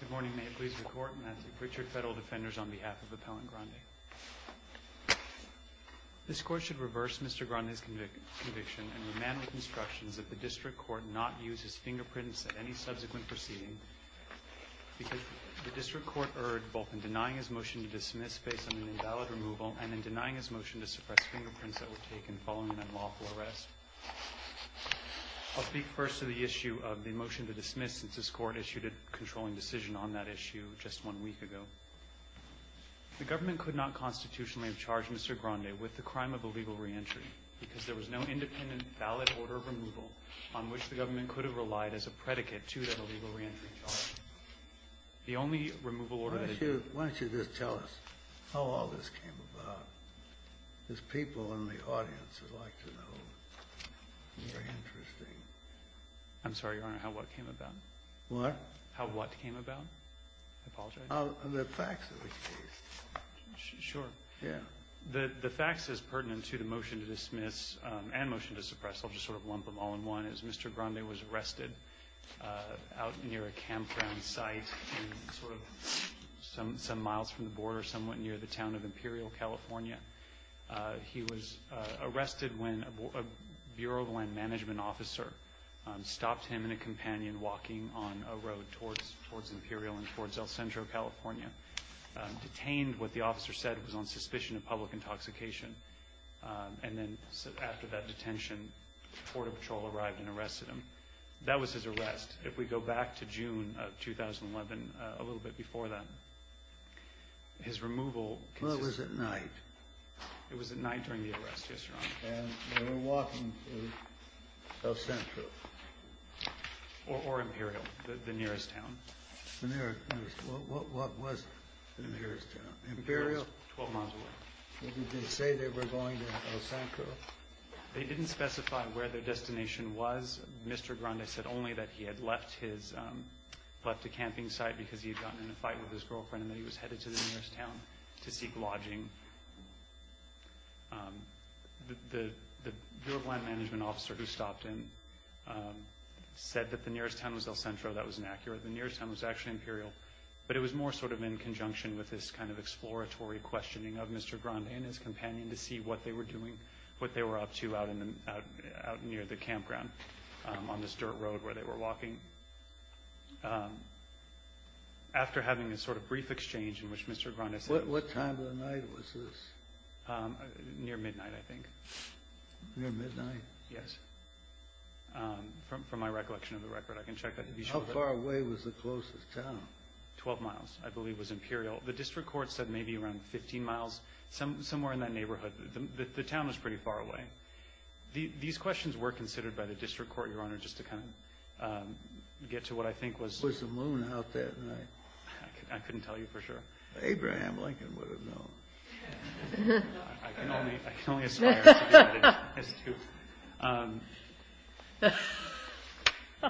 Good morning, may it please the Court, and that's Richard Federal Defenders on behalf of Appellant Grande. This Court should reverse Mr. Grande's conviction and remand with instructions that the District Court not use his fingerprints at any subsequent proceeding because the District Court erred both in denying his motion to dismiss based on an invalid removal and in denying his motion to suppress fingerprints that were taken following an unlawful arrest. I'll speak first to the issue of the motion to dismiss since this Court issued a controlling decision on that issue just one week ago. The government could not constitutionally have charged Mr. Grande with the crime of illegal reentry because there was no independent, valid order of removal on which the government could have relied as a predicate to that illegal reentry charge. Why don't you just tell us how all this came about? Because people in the audience would like to know. It's very interesting. I'm sorry, Your Honor, how what came about? What? How what came about. I apologize. The facts of the case. Sure. Yeah. The facts is pertinent to the motion to dismiss and motion to suppress. I'll just sort of lump them all in one. It was Mr. Grande was arrested out near a campground site and sort of some miles from the border, somewhat near the town of Imperial, California. He was arrested when a Bureau of Land Management officer stopped him and a companion walking on a road towards Imperial and towards El Centro, California, detained. What the officer said was on suspicion of public intoxication. And then after that detention, Border Patrol arrived and arrested him. That was his arrest. If we go back to June of 2011, a little bit before that, his removal. It was at night. It was at night during the arrest, yes, Your Honor. And they were walking to El Centro. Or Imperial, the nearest town. What was the nearest town? Imperial? Twelve miles away. Did they say they were going to El Centro? They didn't specify where their destination was. Mr. Grande said only that he had left a camping site because he had gotten in a fight with his girlfriend and that he was headed to the nearest town to seek lodging. The Bureau of Land Management officer who stopped him said that the nearest town was El Centro. That was inaccurate. The nearest town was actually Imperial. But it was more sort of in conjunction with this kind of exploratory questioning of Mr. Grande and his companion to see what they were doing, what they were up to out near the campground on this dirt road where they were walking. After having this sort of brief exchange in which Mr. Grande said this. What time of the night was this? Near midnight, I think. Near midnight? Yes. From my recollection of the record, I can check. How far away was the closest town? Twelve miles, I believe, was Imperial. The district court said maybe around 15 miles, somewhere in that neighborhood. The town was pretty far away. These questions were considered by the district court, Your Honor, just to kind of get to what I think was. Was the moon out that night? I couldn't tell you for sure. Abraham Lincoln would have known. I can only aspire to do that as truth.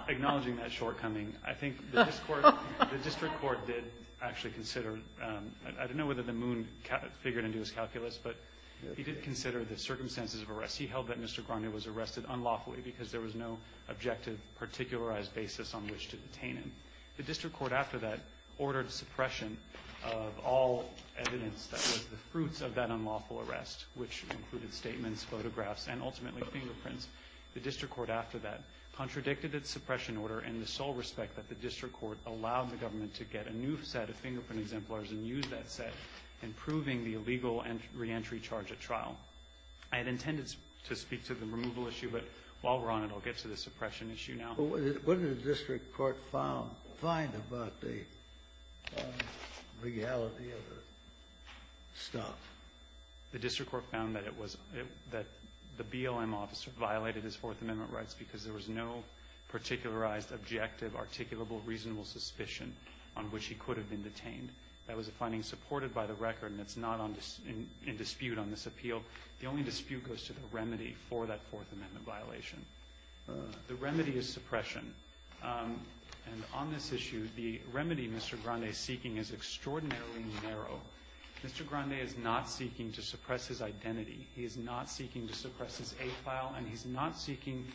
Acknowledging that shortcoming, I think the district court did actually consider. I don't know whether the moon figured into his calculus, but he did consider the circumstances of arrest. He held that Mr. Grande was arrested unlawfully because there was no objective, particularized basis on which to detain him. The district court after that ordered suppression of all evidence that was the fruits of that unlawful arrest, which included statements, photographs, and ultimately fingerprints. The district court after that contradicted its suppression order in the sole respect that the district court allowed the government to get a new set of fingerprint exemplars and use that set in proving the illegal reentry charge at trial. I had intended to speak to the removal issue, but while we're on it, I'll get to the suppression issue now. What did the district court find about the legality of the stuff? The district court found that the BLM officer violated his Fourth Amendment rights because there was no particularized, objective, articulable, reasonable suspicion on which he could have been detained. That was a finding supported by the record, and it's not in dispute on this appeal. The only dispute goes to the remedy for that Fourth Amendment violation. The remedy is suppression, and on this issue, the remedy Mr. Grande is seeking is extraordinarily narrow. Mr. Grande is not seeking to suppress his identity. He is not seeking to suppress his A file, and he's not seeking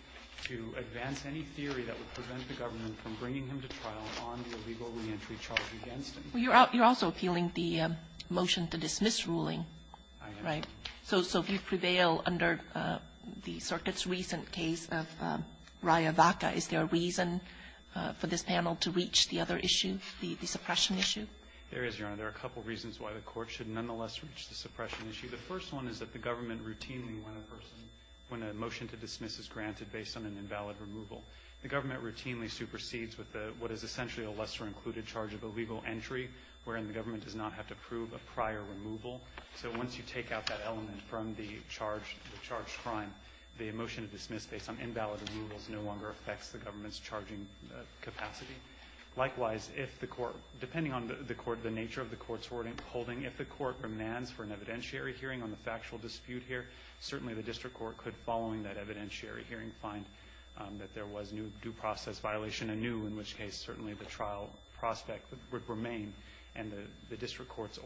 to advance any theory that would prevent the government from bringing him to trial on the illegal reentry charge against him. You're also appealing the motion to dismiss ruling, right? I am. So if you prevail under the circuit's recent case of Riavaca, is there a reason for this panel to reach the other issue, the suppression issue? There is, Your Honor. There are a couple reasons why the Court should nonetheless reach the suppression issue. The first one is that the government routinely, when a person, when a motion to dismiss is granted based on an invalid removal, the government routinely supersedes with what is essentially a lesser-included charge of illegal entry, wherein the government does not have to prove a prior removal. So once you take out that element from the charge, the charged crime, the motion to dismiss based on invalid removals no longer affects the government's charging capacity. Likewise, if the Court, depending on the nature of the Court's holding, if the Court demands for an evidentiary hearing on the factual dispute here, certainly the district court could, following that evidentiary hearing, find that there was due process violation anew, in which case certainly the trial prospect would remain, and the district court's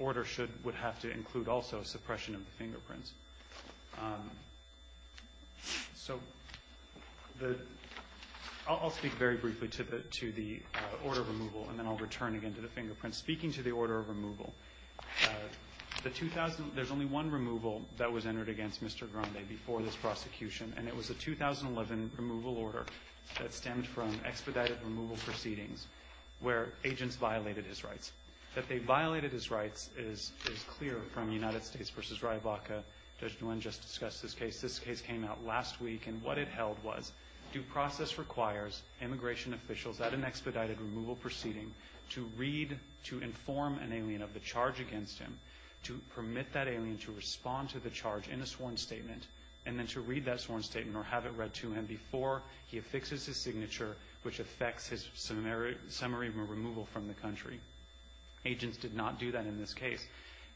So the, I'll speak very briefly to the order of removal, and then I'll return again to the fingerprints. Speaking to the order of removal, the 2000, there's only one removal that was entered against Mr. Grande before this prosecution, and it was a 2011 removal order that stemmed from expedited removal proceedings where agents violated his rights. That they violated his rights is clear from United States v. Ryabaka. Judge Nguyen just discussed this case. This case came out last week, and what it held was due process requires immigration officials at an expedited removal proceeding to read, to inform an alien of the charge against him, to permit that alien to respond to the charge in a sworn statement, and then to read that sworn statement or have it read to him before he affixes his signature, which affects his summary removal from the country. Agents did not do that in this case.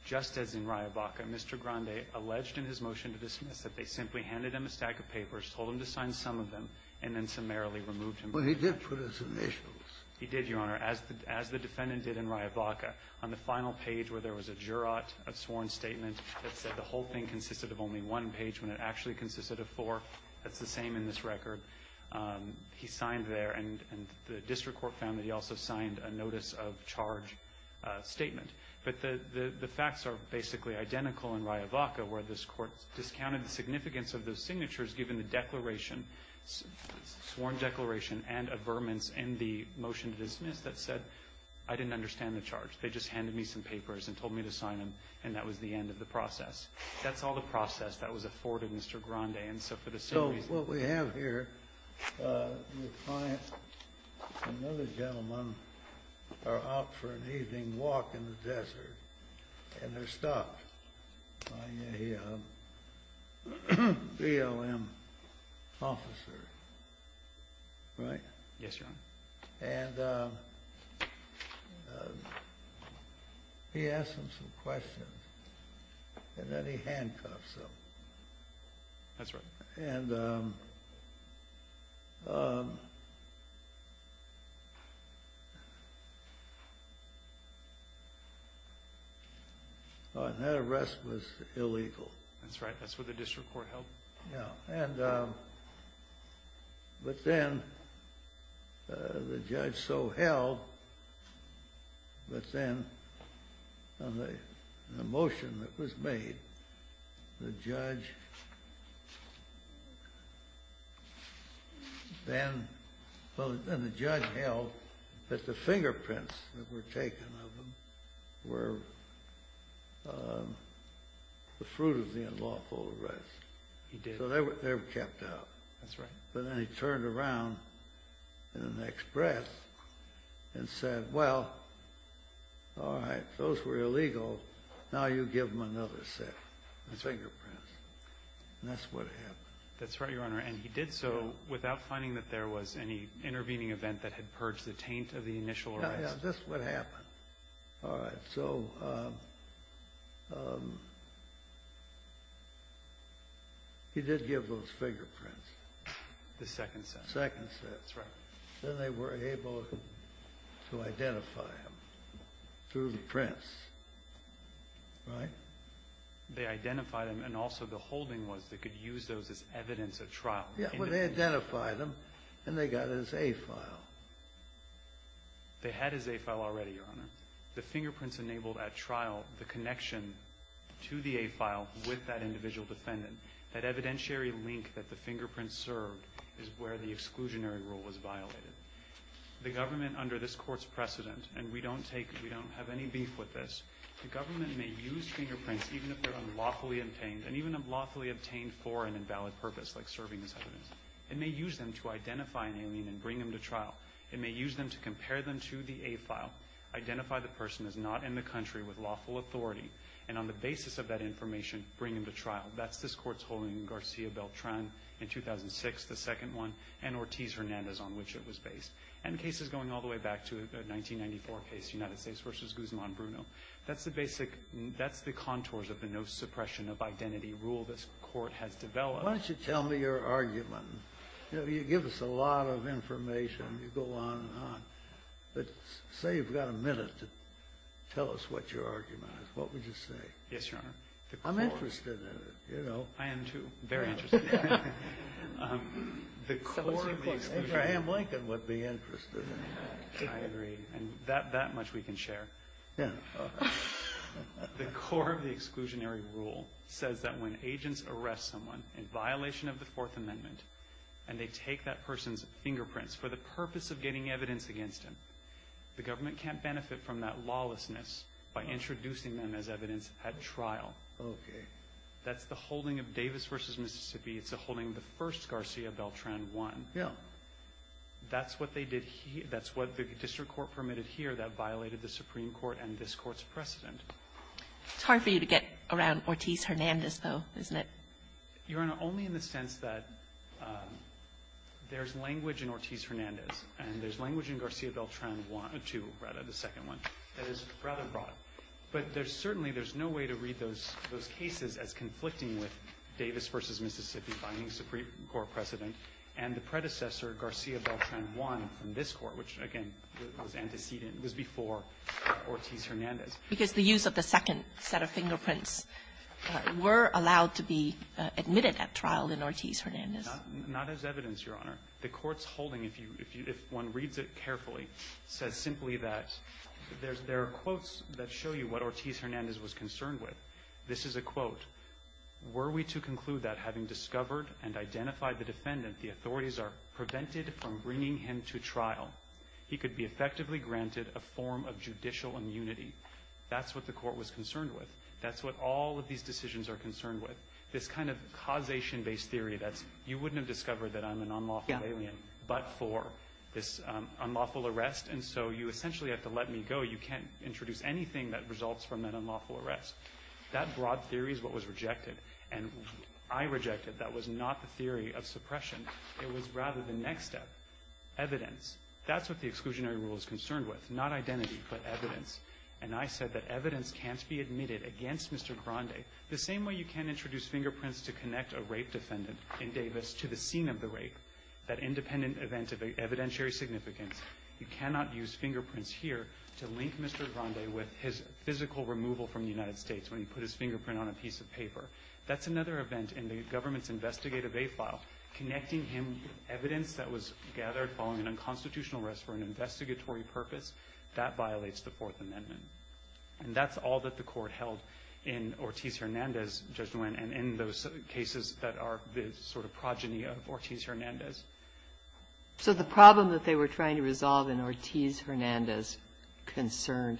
Just as in Ryabaka, Mr. Grande alleged in his motion to dismiss that they simply handed him a stack of papers, told him to sign some of them, and then summarily removed him from the case. Well, he did put his initials. He did, Your Honor, as the defendant did in Ryabaka. On the final page where there was a jurat, a sworn statement, that said the whole thing consisted of only one page when it actually consisted of four. That's the same in this record. He signed there, and the district court found that he also signed a notice of charge statement. But the facts are basically identical in Ryabaka, where this court discounted the significance of those signatures given the declaration, sworn declaration and averments in the motion to dismiss that said, I didn't understand the charge. They just handed me some papers and told me to sign them, and that was the end of the process. That's all the process that was afforded Mr. Grande, and so for the same reason what we have here, the client and another gentleman are out for an evening walk in the desert, and they're stopped by a BLM officer, right? Yes, Your Honor. And he asks them some questions, and then he handcuffs them. That's right. And that arrest was illegal. That's right. That's what the district court held. But then the judge so held, but then on the motion that was made, the judge then held that the fingerprints that were taken of him were the fruit of the unlawful arrest. He did. So they were kept out. That's right. But then he turned around in the next breath and said, well, all right, those were illegal. Now you give them another set of fingerprints. That's right. And that's what happened. That's right, Your Honor. And he did so without finding that there was any intervening event that had purged the taint of the initial arrest. Yes, that's what happened. All right, so he did give those fingerprints. The second set. Second set. That's right. Then they were able to identify him through the prints, right? They identified him, and also the holding was they could use those as evidence of trial. Yeah, well, they identified him, and they got his A-file. They had his A-file already, Your Honor. The fingerprints enabled, at trial, the connection to the A-file with that individual defendant. That evidentiary link that the fingerprints served is where the exclusionary rule was violated. The government, under this Court's precedent, and we don't have any beef with this, the government may use fingerprints, even if they're unlawfully obtained, and even unlawfully obtained for an invalid purpose, like serving as evidence. It may use them to identify an alien and bring him to trial. It may use them to compare them to the A-file, identify the person as not in the country with lawful authority, and on the basis of that information, bring him to trial. That's this Court's holding in Garcia Beltran in 2006, the second one, and Ortiz-Hernandez, on which it was based. And the case is going all the way back to a 1994 case, United States v. Guzman Bruno. That's the basic, that's the contours of the no suppression of identity rule this Court has developed. Why don't you tell me your argument? You know, you give us a lot of information. You go on and on. But say you've got a minute to tell us what your argument is. What would you say? Yes, Your Honor. I'm interested in it, you know. I am, too. Very interested. The core of the exclusionary rule. Abraham Lincoln would be interested in that. I agree. And that much we can share. Yeah. The core of the exclusionary rule says that when agents arrest someone in violation of the Fourth Amendment and they take that person's fingerprints for the purpose of getting evidence against them, the government can't benefit from that lawlessness by introducing them as evidence at trial. Okay. That's the holding of Davis v. Mississippi. It's a holding the first Garcia Beltran won. Yeah. That's what the District Court permitted here that violated the Supreme Court's precedent. It's hard for you to get around Ortiz-Hernandez, though, isn't it? Your Honor, only in the sense that there's language in Ortiz-Hernandez and there's language in Garcia Beltran 2, rather, the second one, that is rather broad. But certainly there's no way to read those cases as conflicting with Davis v. Mississippi vying Supreme Court precedent and the predecessor Garcia Beltran 1 from this court, which, again, was antecedent, was before Ortiz-Hernandez. Because the use of the second set of fingerprints were allowed to be admitted at trial in Ortiz-Hernandez. Not as evidence, Your Honor. The Court's holding, if you – if one reads it carefully, says simply that there are quotes that show you what Ortiz-Hernandez was concerned with. This is a quote. Were we to conclude that having discovered and identified the defendant, the authorities are prevented from bringing him to trial, he could be effectively granted a form of judicial immunity. That's what the Court was concerned with. That's what all of these decisions are concerned with. This kind of causation-based theory that you wouldn't have discovered that I'm an unlawful alien but for this unlawful arrest. And so you essentially have to let me go. You can't introduce anything that results from that unlawful arrest. That broad theory is what was rejected. And I rejected it. That was not the theory of suppression. It was rather the next step, evidence. That's what the exclusionary rule is concerned with. It's not identity but evidence. And I said that evidence can't be admitted against Mr. Grande. The same way you can't introduce fingerprints to connect a rape defendant in Davis to the scene of the rape, that independent event of evidentiary significance, you cannot use fingerprints here to link Mr. Grande with his physical removal from the United States when he put his fingerprint on a piece of paper. That's another event in the government's investigative aid file, connecting him with That violates the Fourth Amendment. And that's all that the Court held in Ortiz-Hernandez, Judge Nguyen, and in those cases that are the sort of progeny of Ortiz-Hernandez. So the problem that they were trying to resolve in Ortiz-Hernandez concerned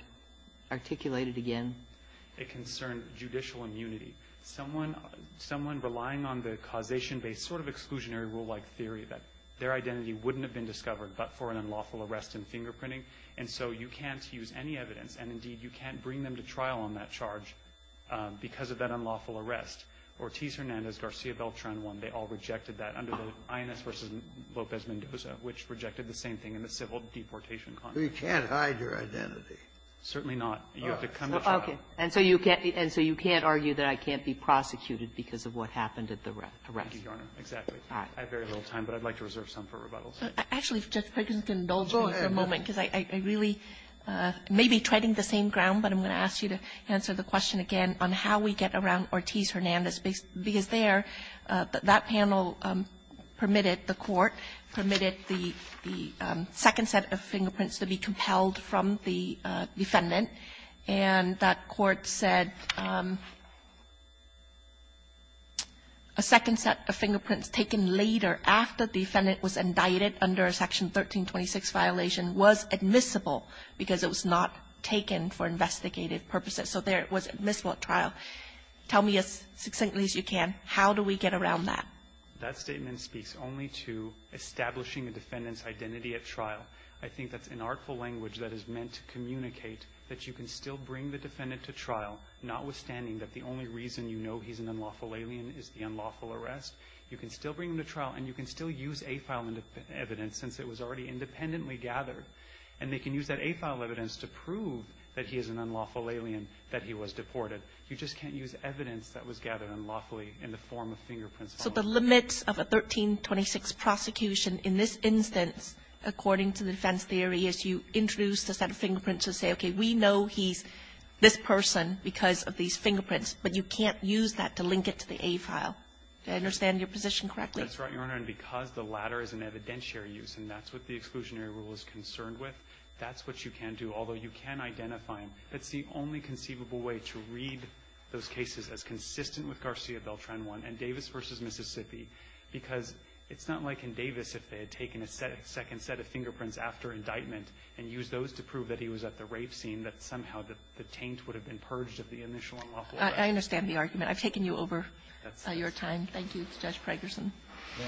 articulate it again? It concerned judicial immunity. Someone relying on the causation-based sort of exclusionary rule-like theory that their identity wouldn't have been discovered but for an unlawful arrest and fingerprinting. And so you can't use any evidence. And, indeed, you can't bring them to trial on that charge because of that unlawful arrest. Ortiz-Hernandez, Garcia Beltran won. They all rejected that under the INS v. Lopez Mendoza, which rejected the same thing in the civil deportation context. You can't hide your identity. Certainly not. You have to come to trial. Okay. And so you can't argue that I can't be prosecuted because of what happened at the arrest? I have very little time, but I'd like to reserve some for rebuttals. Actually, if Justice Kagan can indulge me for a moment, because I really may be treading the same ground, but I'm going to ask you to answer the question again on how we get around Ortiz-Hernandez, because there, that panel permitted the court, permitted the second set of fingerprints to be compelled from the defendant, and that court said a second set of fingerprints taken later after the defendant was indicted under a Section 1326 violation was admissible because it was not taken for investigative purposes. So there, it was admissible at trial. Tell me as succinctly as you can, how do we get around that? That statement speaks only to establishing a defendant's identity at trial. I think that's an artful language that is meant to communicate that you can still bring the defendant to trial, notwithstanding that the only reason you know he's an unlawful alien is the unlawful arrest. You can still bring him to trial and you can still use that A-file evidence since it was already independently gathered, and they can use that A-file evidence to prove that he is an unlawful alien, that he was deported. You just can't use evidence that was gathered unlawfully in the form of fingerprints following the case. So the limits of a 1326 prosecution in this instance, according to the defense theory, is you introduce the set of fingerprints to say, okay, we know he's this person because of these fingerprints, but you can't use that to link it to the A-file. Do I understand your position correctly? That's right, Your Honor, and because the latter is an evidentiary use, and that's what the exclusionary rule is concerned with, that's what you can do, although you can identify him. That's the only conceivable way to read those cases as consistent with Garcia-Beltran 1 and Davis v. Mississippi, because it's not like in Davis if they had taken a second set of fingerprints after indictment and used those to prove that he was at the rave scene, that somehow the taint would have been purged of the initial unlawful arrest. I understand the argument. I've taken you over your time. Thank you. I'll turn it over to Judge Pregerson. Yeah.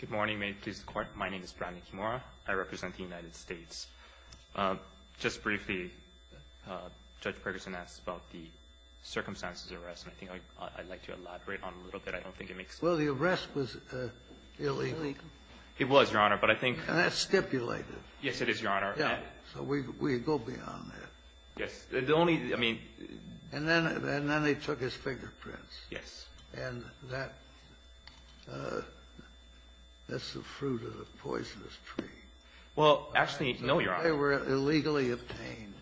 Good morning. May it please the Court. My name is Brandon Kimura. I represent the United States. Just briefly, Judge Pregerson asked about the circumstances of the arrest, and I think I'd like to elaborate on it a little bit. I don't think it makes sense. Well, the arrest was illegal. It was, Your Honor, but I think that's stipulated. Yes, it is, Your Honor. Yeah. So we go beyond that. Yes. The only – I mean – And then they took his fingerprints. Yes. And that's the fruit of the poisonous tree. Well, actually, no, Your Honor. They were illegally obtained.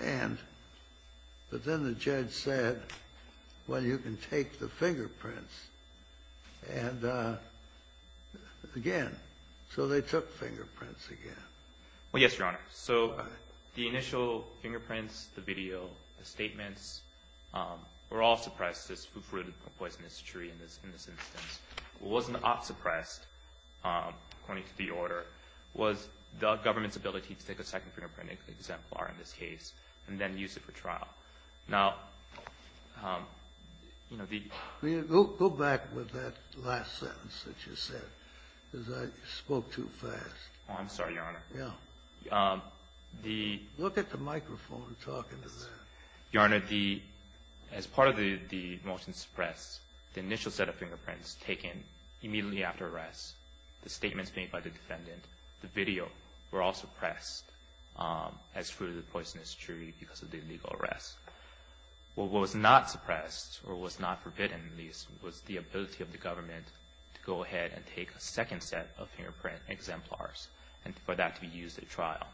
And – but then the judge said, well, you can take the fingerprints. And again – so they took fingerprints again. Well, yes, Your Honor. All right. So the initial fingerprints, the video, the statements were all suppressed, this fruit of the poisonous tree in this instance. What wasn't suppressed, according to the order, was the government's ability to take a second fingerprint exemplar in this case and then use it for trial. Now, you know, the – Go back with that last sentence that you said, because I spoke too fast. Oh, I'm sorry, Your Honor. Yeah. The – Look at the microphone talking to that. Your Honor, the – as part of the motion suppressed, the initial set of fingerprints taken immediately after arrest, the statements made by the defendant, the video, were all suppressed as fruit of the poisonous tree because of the illegal arrest. Well, what was not suppressed or what was not forbidden, at least, was the ability of the government to go ahead and take a second set of fingerprint exemplars and for that to be used at trial.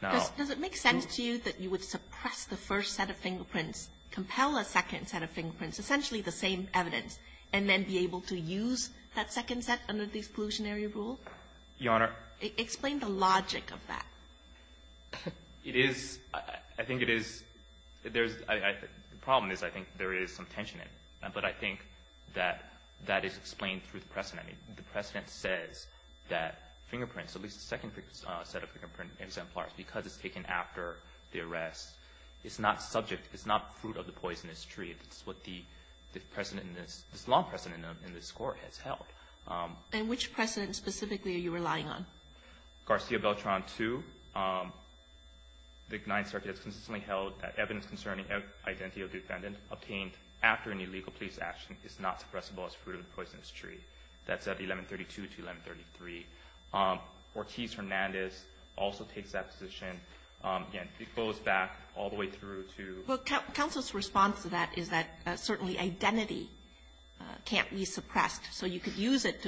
Now – Does it make sense to you that you would suppress the first set of fingerprints, compel a second set of fingerprints, essentially the same evidence, and then be able to use that second set under the exclusionary rule? Your Honor – Explain the logic of that. It is – I think it is – there's – the problem is I think there is some tension in it, but I think that that is explained through the precedent. I mean, the precedent says that fingerprints, at least the second set of fingerprint exemplars, because it's taken after the arrest, it's not subject – it's not fruit of the poisonous tree. It's what the precedent – this law precedent in this Court has held. And which precedent specifically are you relying on? Garcia Beltran 2. The Ninth Circuit has consistently held that evidence concerning identity of defendant obtained after an illegal police action is not suppressible as fruit of the poisonous tree. That's at 1132 to 1133. Ortiz-Hernandez also takes that position. Again, it goes back all the way through to – Well, counsel's response to that is that certainly identity can't be suppressed. So you could use it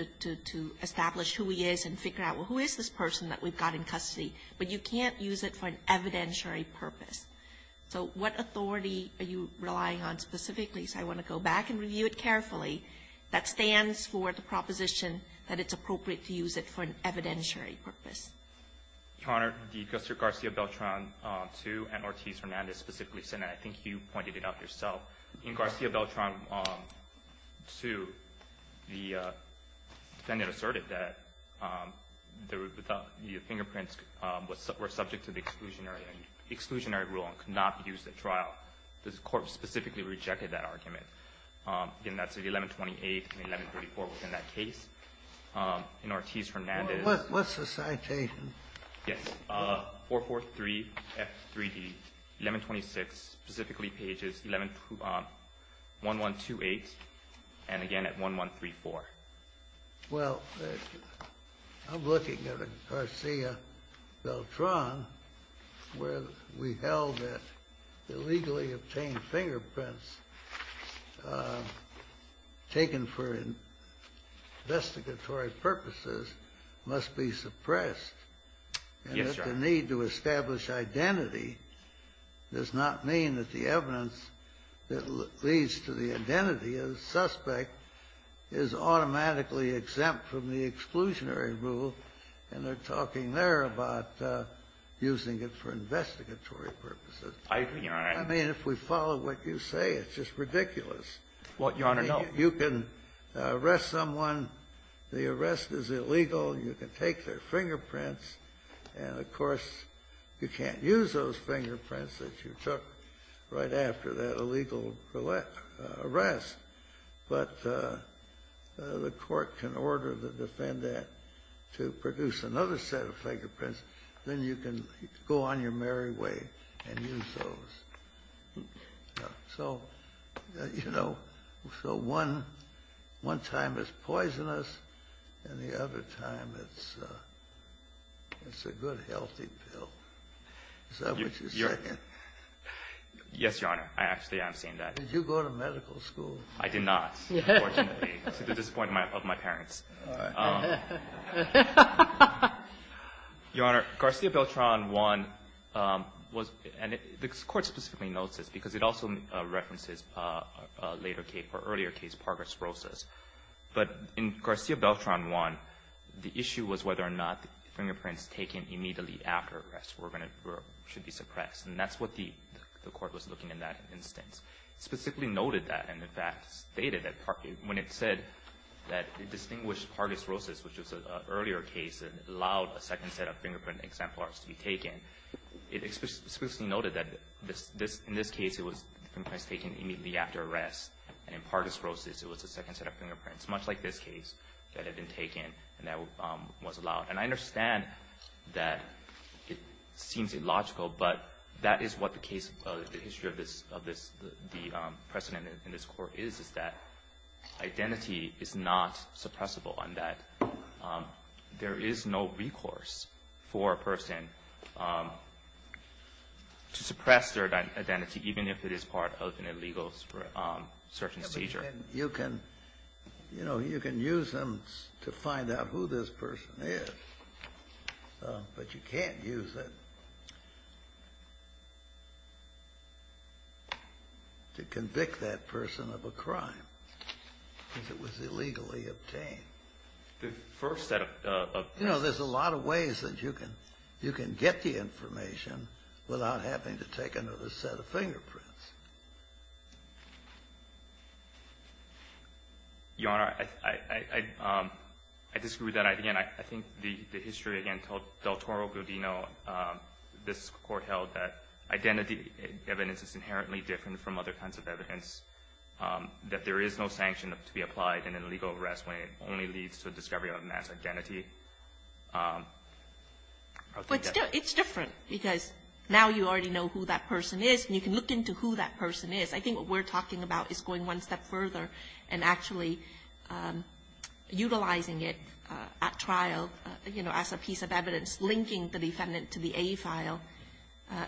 to establish who he is and figure out, well, who is this person that we've got in custody? But you can't use it for an evidentiary purpose. So what authority are you relying on specifically? So I want to go back and review it carefully. That stands for the proposition that it's appropriate to use it for an evidentiary purpose. Your Honor, the Garcia Beltran 2 and Ortiz-Hernandez specifically said that. I think you pointed it out yourself. In Garcia Beltran 2, the defendant asserted that the fingerprints were subject to the exclusionary rule and could not be used at trial. The court specifically rejected that argument. Again, that's at 1128 and 1134 within that case. In Ortiz-Hernandez – What's the citation? Yes. 443F3D, 1126, specifically pages 1128 and again at 1134. Well, I'm looking at a Garcia Beltran where we held that illegally obtained fingerprints taken for investigatory purposes must be suppressed. Yes, Your Honor. And that the need to establish identity does not mean that the evidence that leads to the identity of the suspect is automatically exempt from the exclusionary rule, and they're talking there about using it for investigatory purposes. I agree, Your Honor. I mean, if we follow what you say, it's just ridiculous. Well, Your Honor, no. You can arrest someone. The arrest is illegal. You can take their fingerprints. And, of course, you can't use those fingerprints that you took right after that illegal arrest. But the court can order the defendant to produce another set of fingerprints. Then you can go on your merry way and use those. So, you know, so one time it's poisonous, and the other time it's a good healthy pill. Is that what you're saying? Yes, Your Honor. I actually am saying that. Did you go to medical school? I did not, unfortunately, to the disappointment of my parents. All right. Your Honor, Garcia-Beltran I was — and the Court specifically notes this because it also references a later case, or earlier case, Parker-Srosas. But in Garcia-Beltran I, the issue was whether or not the fingerprints taken immediately after arrest were going to — should be suppressed. And that's what the Court was looking at in that instance. It specifically noted that and, in fact, stated that when it said that it distinguished Parker-Srosas, which was an earlier case that allowed a second set of fingerprint exemplars to be taken, it explicitly noted that in this case it was fingerprints taken immediately after arrest. And in Parker-Srosas it was a second set of fingerprints, much like this case, that had been taken and that was allowed. And I understand that it seems illogical, but that is what the case — the history of this — of this — the precedent in this Court is, is that identity is not suppressible and that there is no recourse for a person to suppress their identity, even if it is And you can — you know, you can use them to find out who this person is, but you can't use it to convict that person of a crime because it was illegally obtained. The first set of — You know, there's a lot of ways that you can — you can get the information without having to take another set of fingerprints. Your Honor, I — I — I disagree with that. Again, I think the — the history, again, told Del Toro-Giudino, this Court held that identity evidence is inherently different from other kinds of evidence, that there is no sanction to be applied in an illegal arrest when it only leads to the discovery of a mass identity. But still, it's different because now you already know who that person is and you can look into who that person is. I think what we're talking about is going one step further and actually utilizing it at trial, you know, as a piece of evidence linking the defendant to the A file.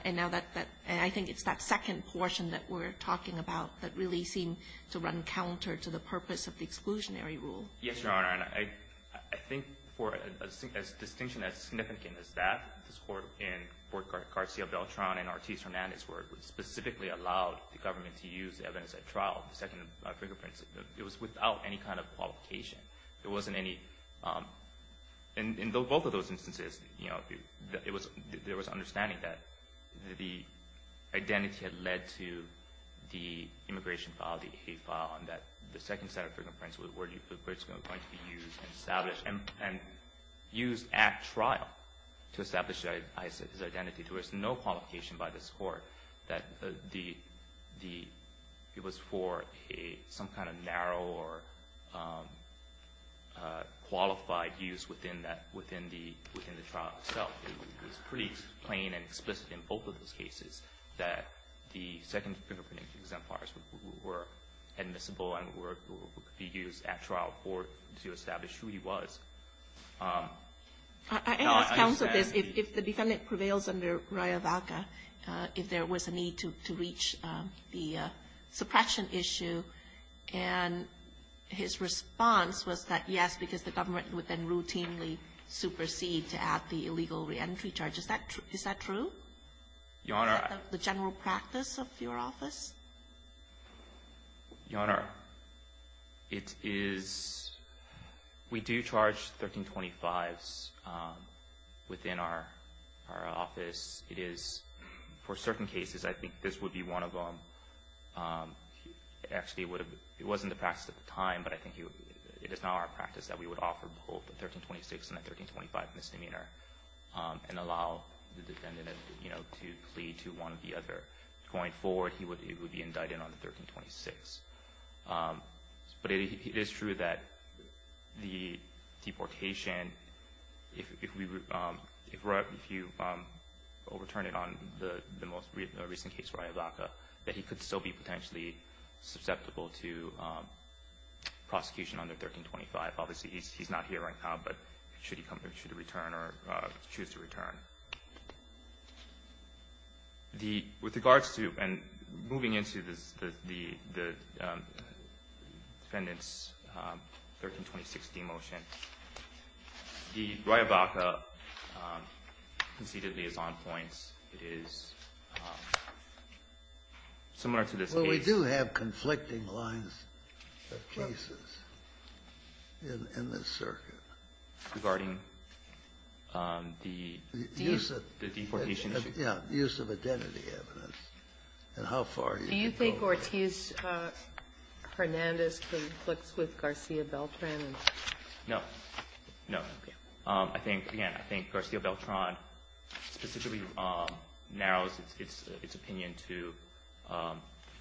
And now that — and I think it's that second portion that we're talking about that really seemed to run counter to the purpose of the exclusionary rule. Yes, Your Honor. And I — I think for a distinction as significant as that, this Court in Fort Garcia-Beltran and Ortiz-Hernandez where it specifically allowed the government to use the evidence at trial, the second fingerprints, it was without any kind of qualification. There wasn't any — in both of those instances, you know, it was — there was understanding that the identity had led to the immigration file, the A file, and that the second set of fingerprints were going to be used and established and used at trial to establish his identity. There was no qualification by this Court that the — it was for some kind of narrow or qualified use within that — within the trial itself. It was pretty plain and explicit in both of those cases that the second fingerprinting exemplars were admissible and were — could be used at trial for — to establish who he was. I understand — I ask counsel this. If the defendant prevails under Raya Vaca, if there was a need to reach the suppression issue, and his response was that yes, because the government would then routinely supersede to add the illegal reentry charge, is that true? Your Honor, I — Is that the general practice of your office? Your Honor, it is — we do charge 1325s within our office. It is — for certain cases, I think this would be one of them. Actually, it would have — it wasn't the practice at the time, but I think it is now our practice that we would offer both the 1326 and the 1325 misdemeanor and allow the defendant, you know, to plead to one or the other. Going forward, he would be indicted on the 1326. But it is true that the deportation, if we — if you overturn it on the most recent case, Raya Vaca, that he could still be potentially susceptible to prosecution under 1325. Obviously, he's not here right now, but should he come — should he return or choose to return? Your Honor, the — with regards to — and moving into the defendant's 1326 demotion, the Raya Vaca conceded liaison points. It is similar to this case. Well, we do have conflicting lines of cases in this circuit. Regarding the deportation issue. Yeah. The use of identity evidence and how far you can go. Do you think Ortiz-Hernandez conflicts with Garcia-Beltran? No. No. I think, again, I think Garcia-Beltran specifically narrows its opinion to the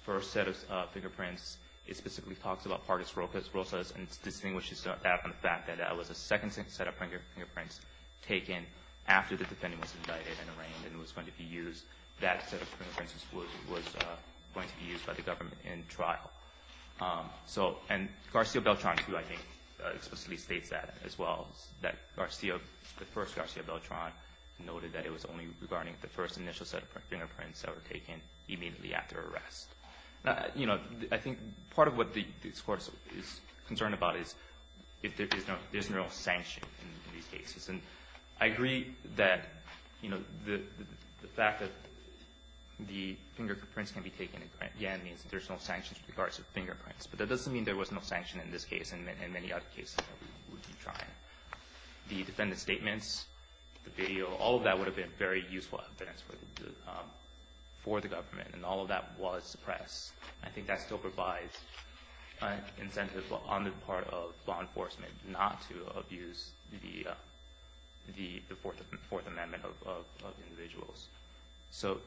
first set of fingerprints. It specifically talks about parties' role sets and distinguishes that from the fact that that was the second set of fingerprints taken after the defendant was indicted and arraigned and was going to be used — that set of fingerprints was going to be used by the government in trial. So, and Garcia-Beltran, too, I think, explicitly states that as well, that Garcia — the first Garcia-Beltran noted that it was only regarding the first initial set of fingerprints that were taken immediately after arrest. Now, you know, I think part of what this Court is concerned about is if there's no — there's no sanction in these cases. And I agree that, you know, the fact that the fingerprints can be taken again means that there's no sanctions with regards to fingerprints. But that doesn't mean there was no sanction in this case and many other cases that we would be trying. The defendant's statements, the video, all of that would have been very useful evidence for the government. And all of that was suppressed. I think that still provides incentive on the part of law enforcement not to abuse the Fourth Amendment of individuals. So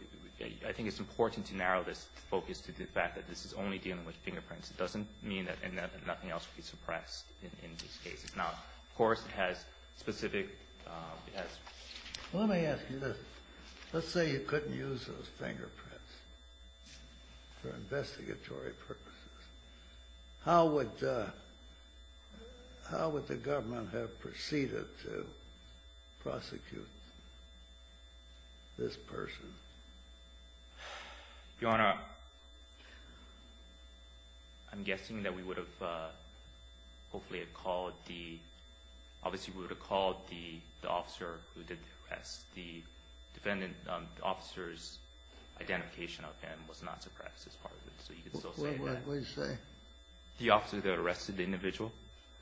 I think it's important to narrow this focus to the fact that this is only dealing with fingerprints. It doesn't mean that nothing else would be suppressed in these cases. Now, of course, it has specific — Let's say you couldn't use those fingerprints for investigatory purposes. How would the government have proceeded to prosecute this person? Your Honor, I'm guessing that we would have hopefully called the — obviously we would have called the defendant. The officer's identification of him was not suppressed as part of it. So you could still say that. What did you say? The officer that arrested the individual.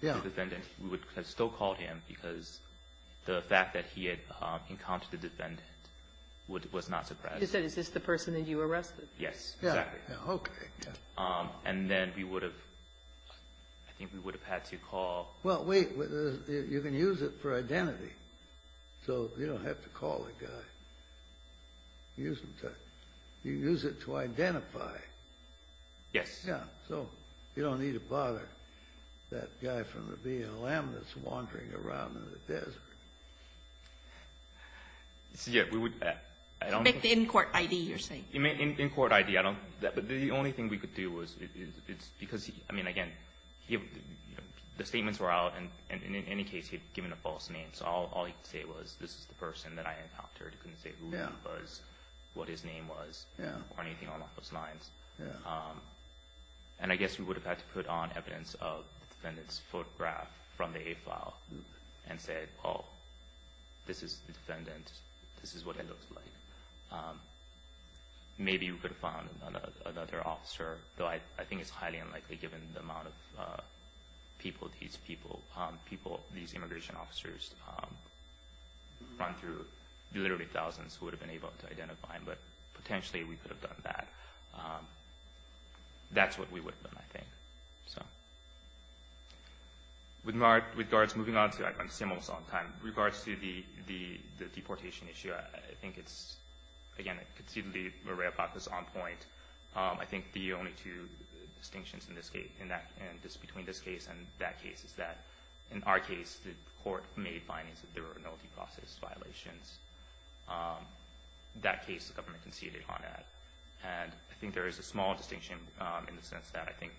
Yeah. The defendant. We would have still called him because the fact that he had encountered the defendant was not suppressed. You said, is this the person that you arrested? Yes, exactly. Yeah. Okay. And then we would have — I think we would have had to call — Well, wait. You can use it for identity. So you don't have to call the guy. You can use it to identify. Yes. Yeah. So you don't need to bother that guy from the BLM that's wandering around in the desert. Yeah. We would — It's like the in-court ID you're saying. In-court ID. Yeah. But the only thing we could do was — because, I mean, again, the statements were out. And in any case, he had given a false name. So all he could say was, this is the person that I encountered. He couldn't say who he was, what his name was, or anything along those lines. Yeah. And I guess we would have had to put on evidence of the defendant's photograph from the A-file and say, oh, this is the defendant. This is what it looks like. Maybe we could have found another officer. Though I think it's highly unlikely, given the amount of people these people — these immigration officers run through. Literally thousands would have been able to identify him. But potentially we could have done that. That's what we would have done, I think. So. With regards — moving on to — I've been with CMS a long time. With regards to the deportation issue, I think it's, again, conceivably where RAYVAC was on point. I think the only two distinctions in this case and between this case and that case is that, in our case, the court made findings that there were no due process violations. That case, the government conceded on that. And I think there is a small distinction in the sense that I think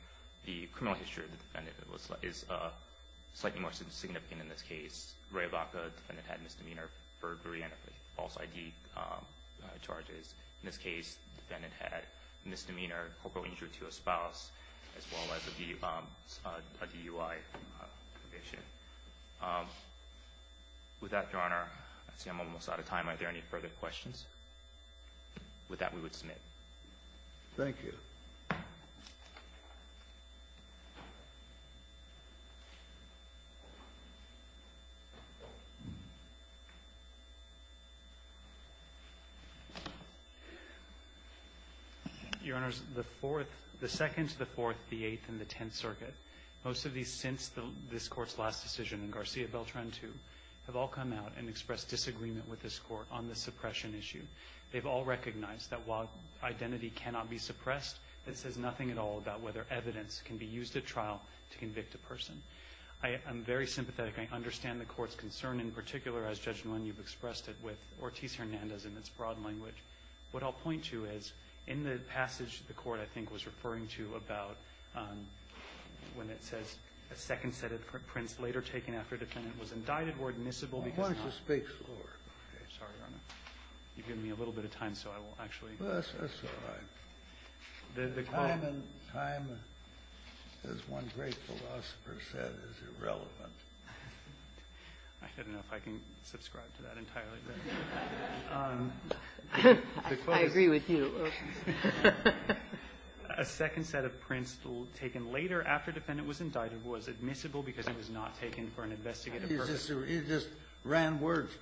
the criminal history of the defendant is slightly more significant in this case. RAYVAC, the defendant had misdemeanor for three false ID charges. In this case, the defendant had misdemeanor, corporal injury to a spouse, as well as a DUI conviction. With that, Your Honor, I see I'm almost out of time. Are there any further questions? With that, we would submit. Thank you. Your Honors, the Fourth — the Second, the Fourth, the Eighth, and the Tenth Circuit, most of these since this Court's last decision in Garcia-Beltran II, have all come out and expressed disagreement with this Court on the suppression issue. They've all recognized that while identity cannot be suppressed, it says nothing at all about whether evidence can be used at trial to convict a person. I am very sympathetic. I understand the Court's concern, in particular, as, Judge Nguyen, you've expressed it with Ortiz-Hernandez in its broad language. What I'll point to is, in the passage the Court, I think, was referring to about when it says, a second set of prints later taken after a defendant was indicted were admissible because not — I want you to speak slower. Sorry, Your Honor. You've given me a little bit of time, so I will actually — That's all right. Time, as one great philosopher said, is irrelevant. I don't know if I can subscribe to that entirely. I agree with you. A second set of prints taken later after a defendant was indicted was admissible because it was not taken for an investigative purpose. It just ran words.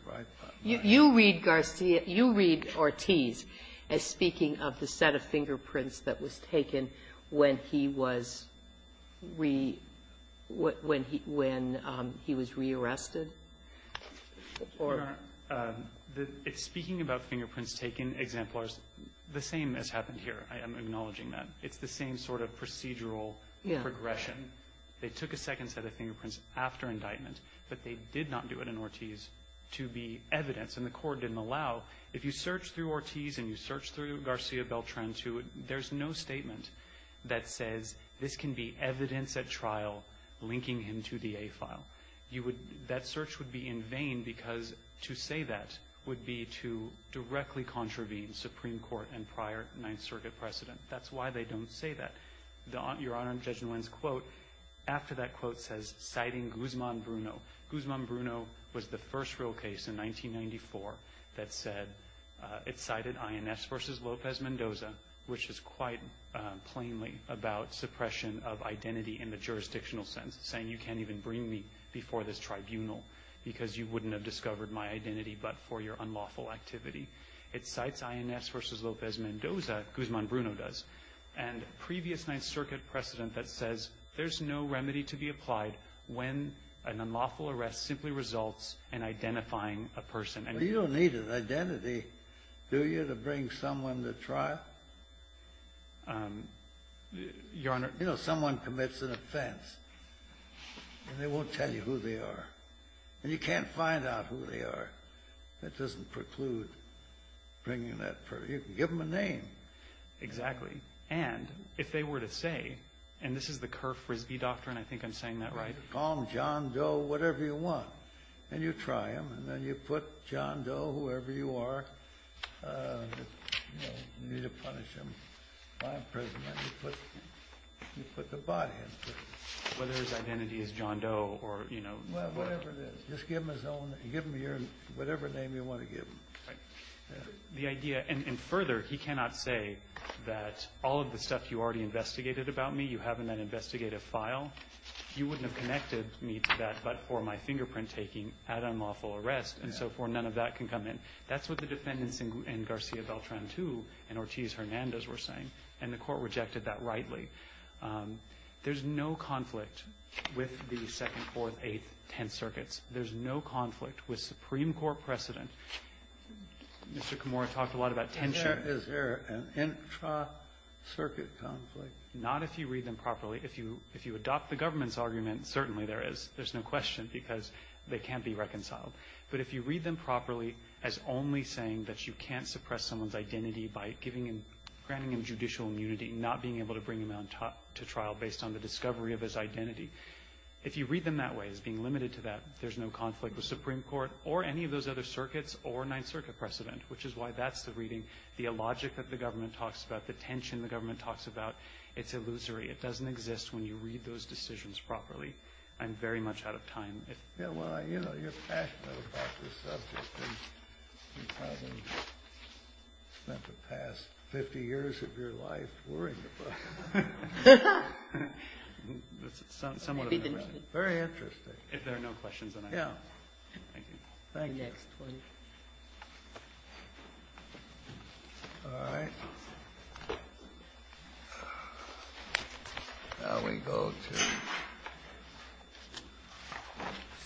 You read Garcia — you read Ortiz as speaking of the set of fingerprints that was taken when he was re- — when he was rearrested? Your Honor, speaking about fingerprints taken, exemplars, the same has happened here. I am acknowledging that. It's the same sort of procedural progression. They took a second set of fingerprints after indictment, but they did not do it in order to be evidence, and the court didn't allow. If you search through Ortiz and you search through Garcia Beltran, too, there's no statement that says this can be evidence at trial linking him to the A-file. You would — that search would be in vain because to say that would be to directly contravene Supreme Court and prior Ninth Circuit precedent. That's why they don't say that. Your Honor, Judge Nguyen's quote after that quote says, Guzman Bruno was the first real case in 1994 that said — it cited INS versus Lopez Mendoza, which is quite plainly about suppression of identity in the jurisdictional sense, saying you can't even bring me before this tribunal because you wouldn't have discovered my identity but for your unlawful activity. It cites INS versus Lopez Mendoza, Guzman Bruno does, and previous Ninth when an unlawful arrest simply results in identifying a person. You don't need an identity, do you, to bring someone to trial? Your Honor — You know, someone commits an offense, and they won't tell you who they are. And you can't find out who they are. That doesn't preclude bringing that person. You can give them a name. Exactly. And if they were to say — and this is the Kerr-Frisbee doctrine, I think I'm saying that right. Call them John Doe, whatever you want. And you try them, and then you put John Doe, whoever you are, you know, you need to punish him by imprisonment. You put the body in prison. Whether his identity is John Doe or, you know — Well, whatever it is. Just give him his own — give him your — whatever name you want to give him. Right. The idea — and further, he cannot say that all of the stuff you already investigated about me, you have in that investigative file, you wouldn't have connected me to that but for my fingerprint-taking at unlawful arrest, and so forth. None of that can come in. That's what the defendants in Garcia-Beltran II and Ortiz-Hernandez were saying, and the Court rejected that rightly. There's no conflict with the Second, Fourth, Eighth, Tenth Circuits. There's no conflict with Supreme Court precedent. Mr. Kimura talked a lot about tension. Is there an intra-circuit conflict? Not if you read them properly. If you adopt the government's argument, certainly there is. There's no question because they can't be reconciled. But if you read them properly as only saying that you can't suppress someone's identity by giving him — granting him judicial immunity, not being able to bring him out to trial based on the discovery of his identity. If you read them that way, as being limited to that, there's no conflict with Supreme Court or any of those other circuits or Ninth Circuit precedent, which is why that's a reading. The illogic that the government talks about, the tension the government talks about, it's illusory. It doesn't exist when you read those decisions properly. I'm very much out of time. Yeah, well, you know, you're passionate about this subject and probably spent the past 50 years of your life worrying about it. That's somewhat of an interesting — Very interesting. If there are no questions, then I'm done. Thank you. Thank you. All right. Now we go to —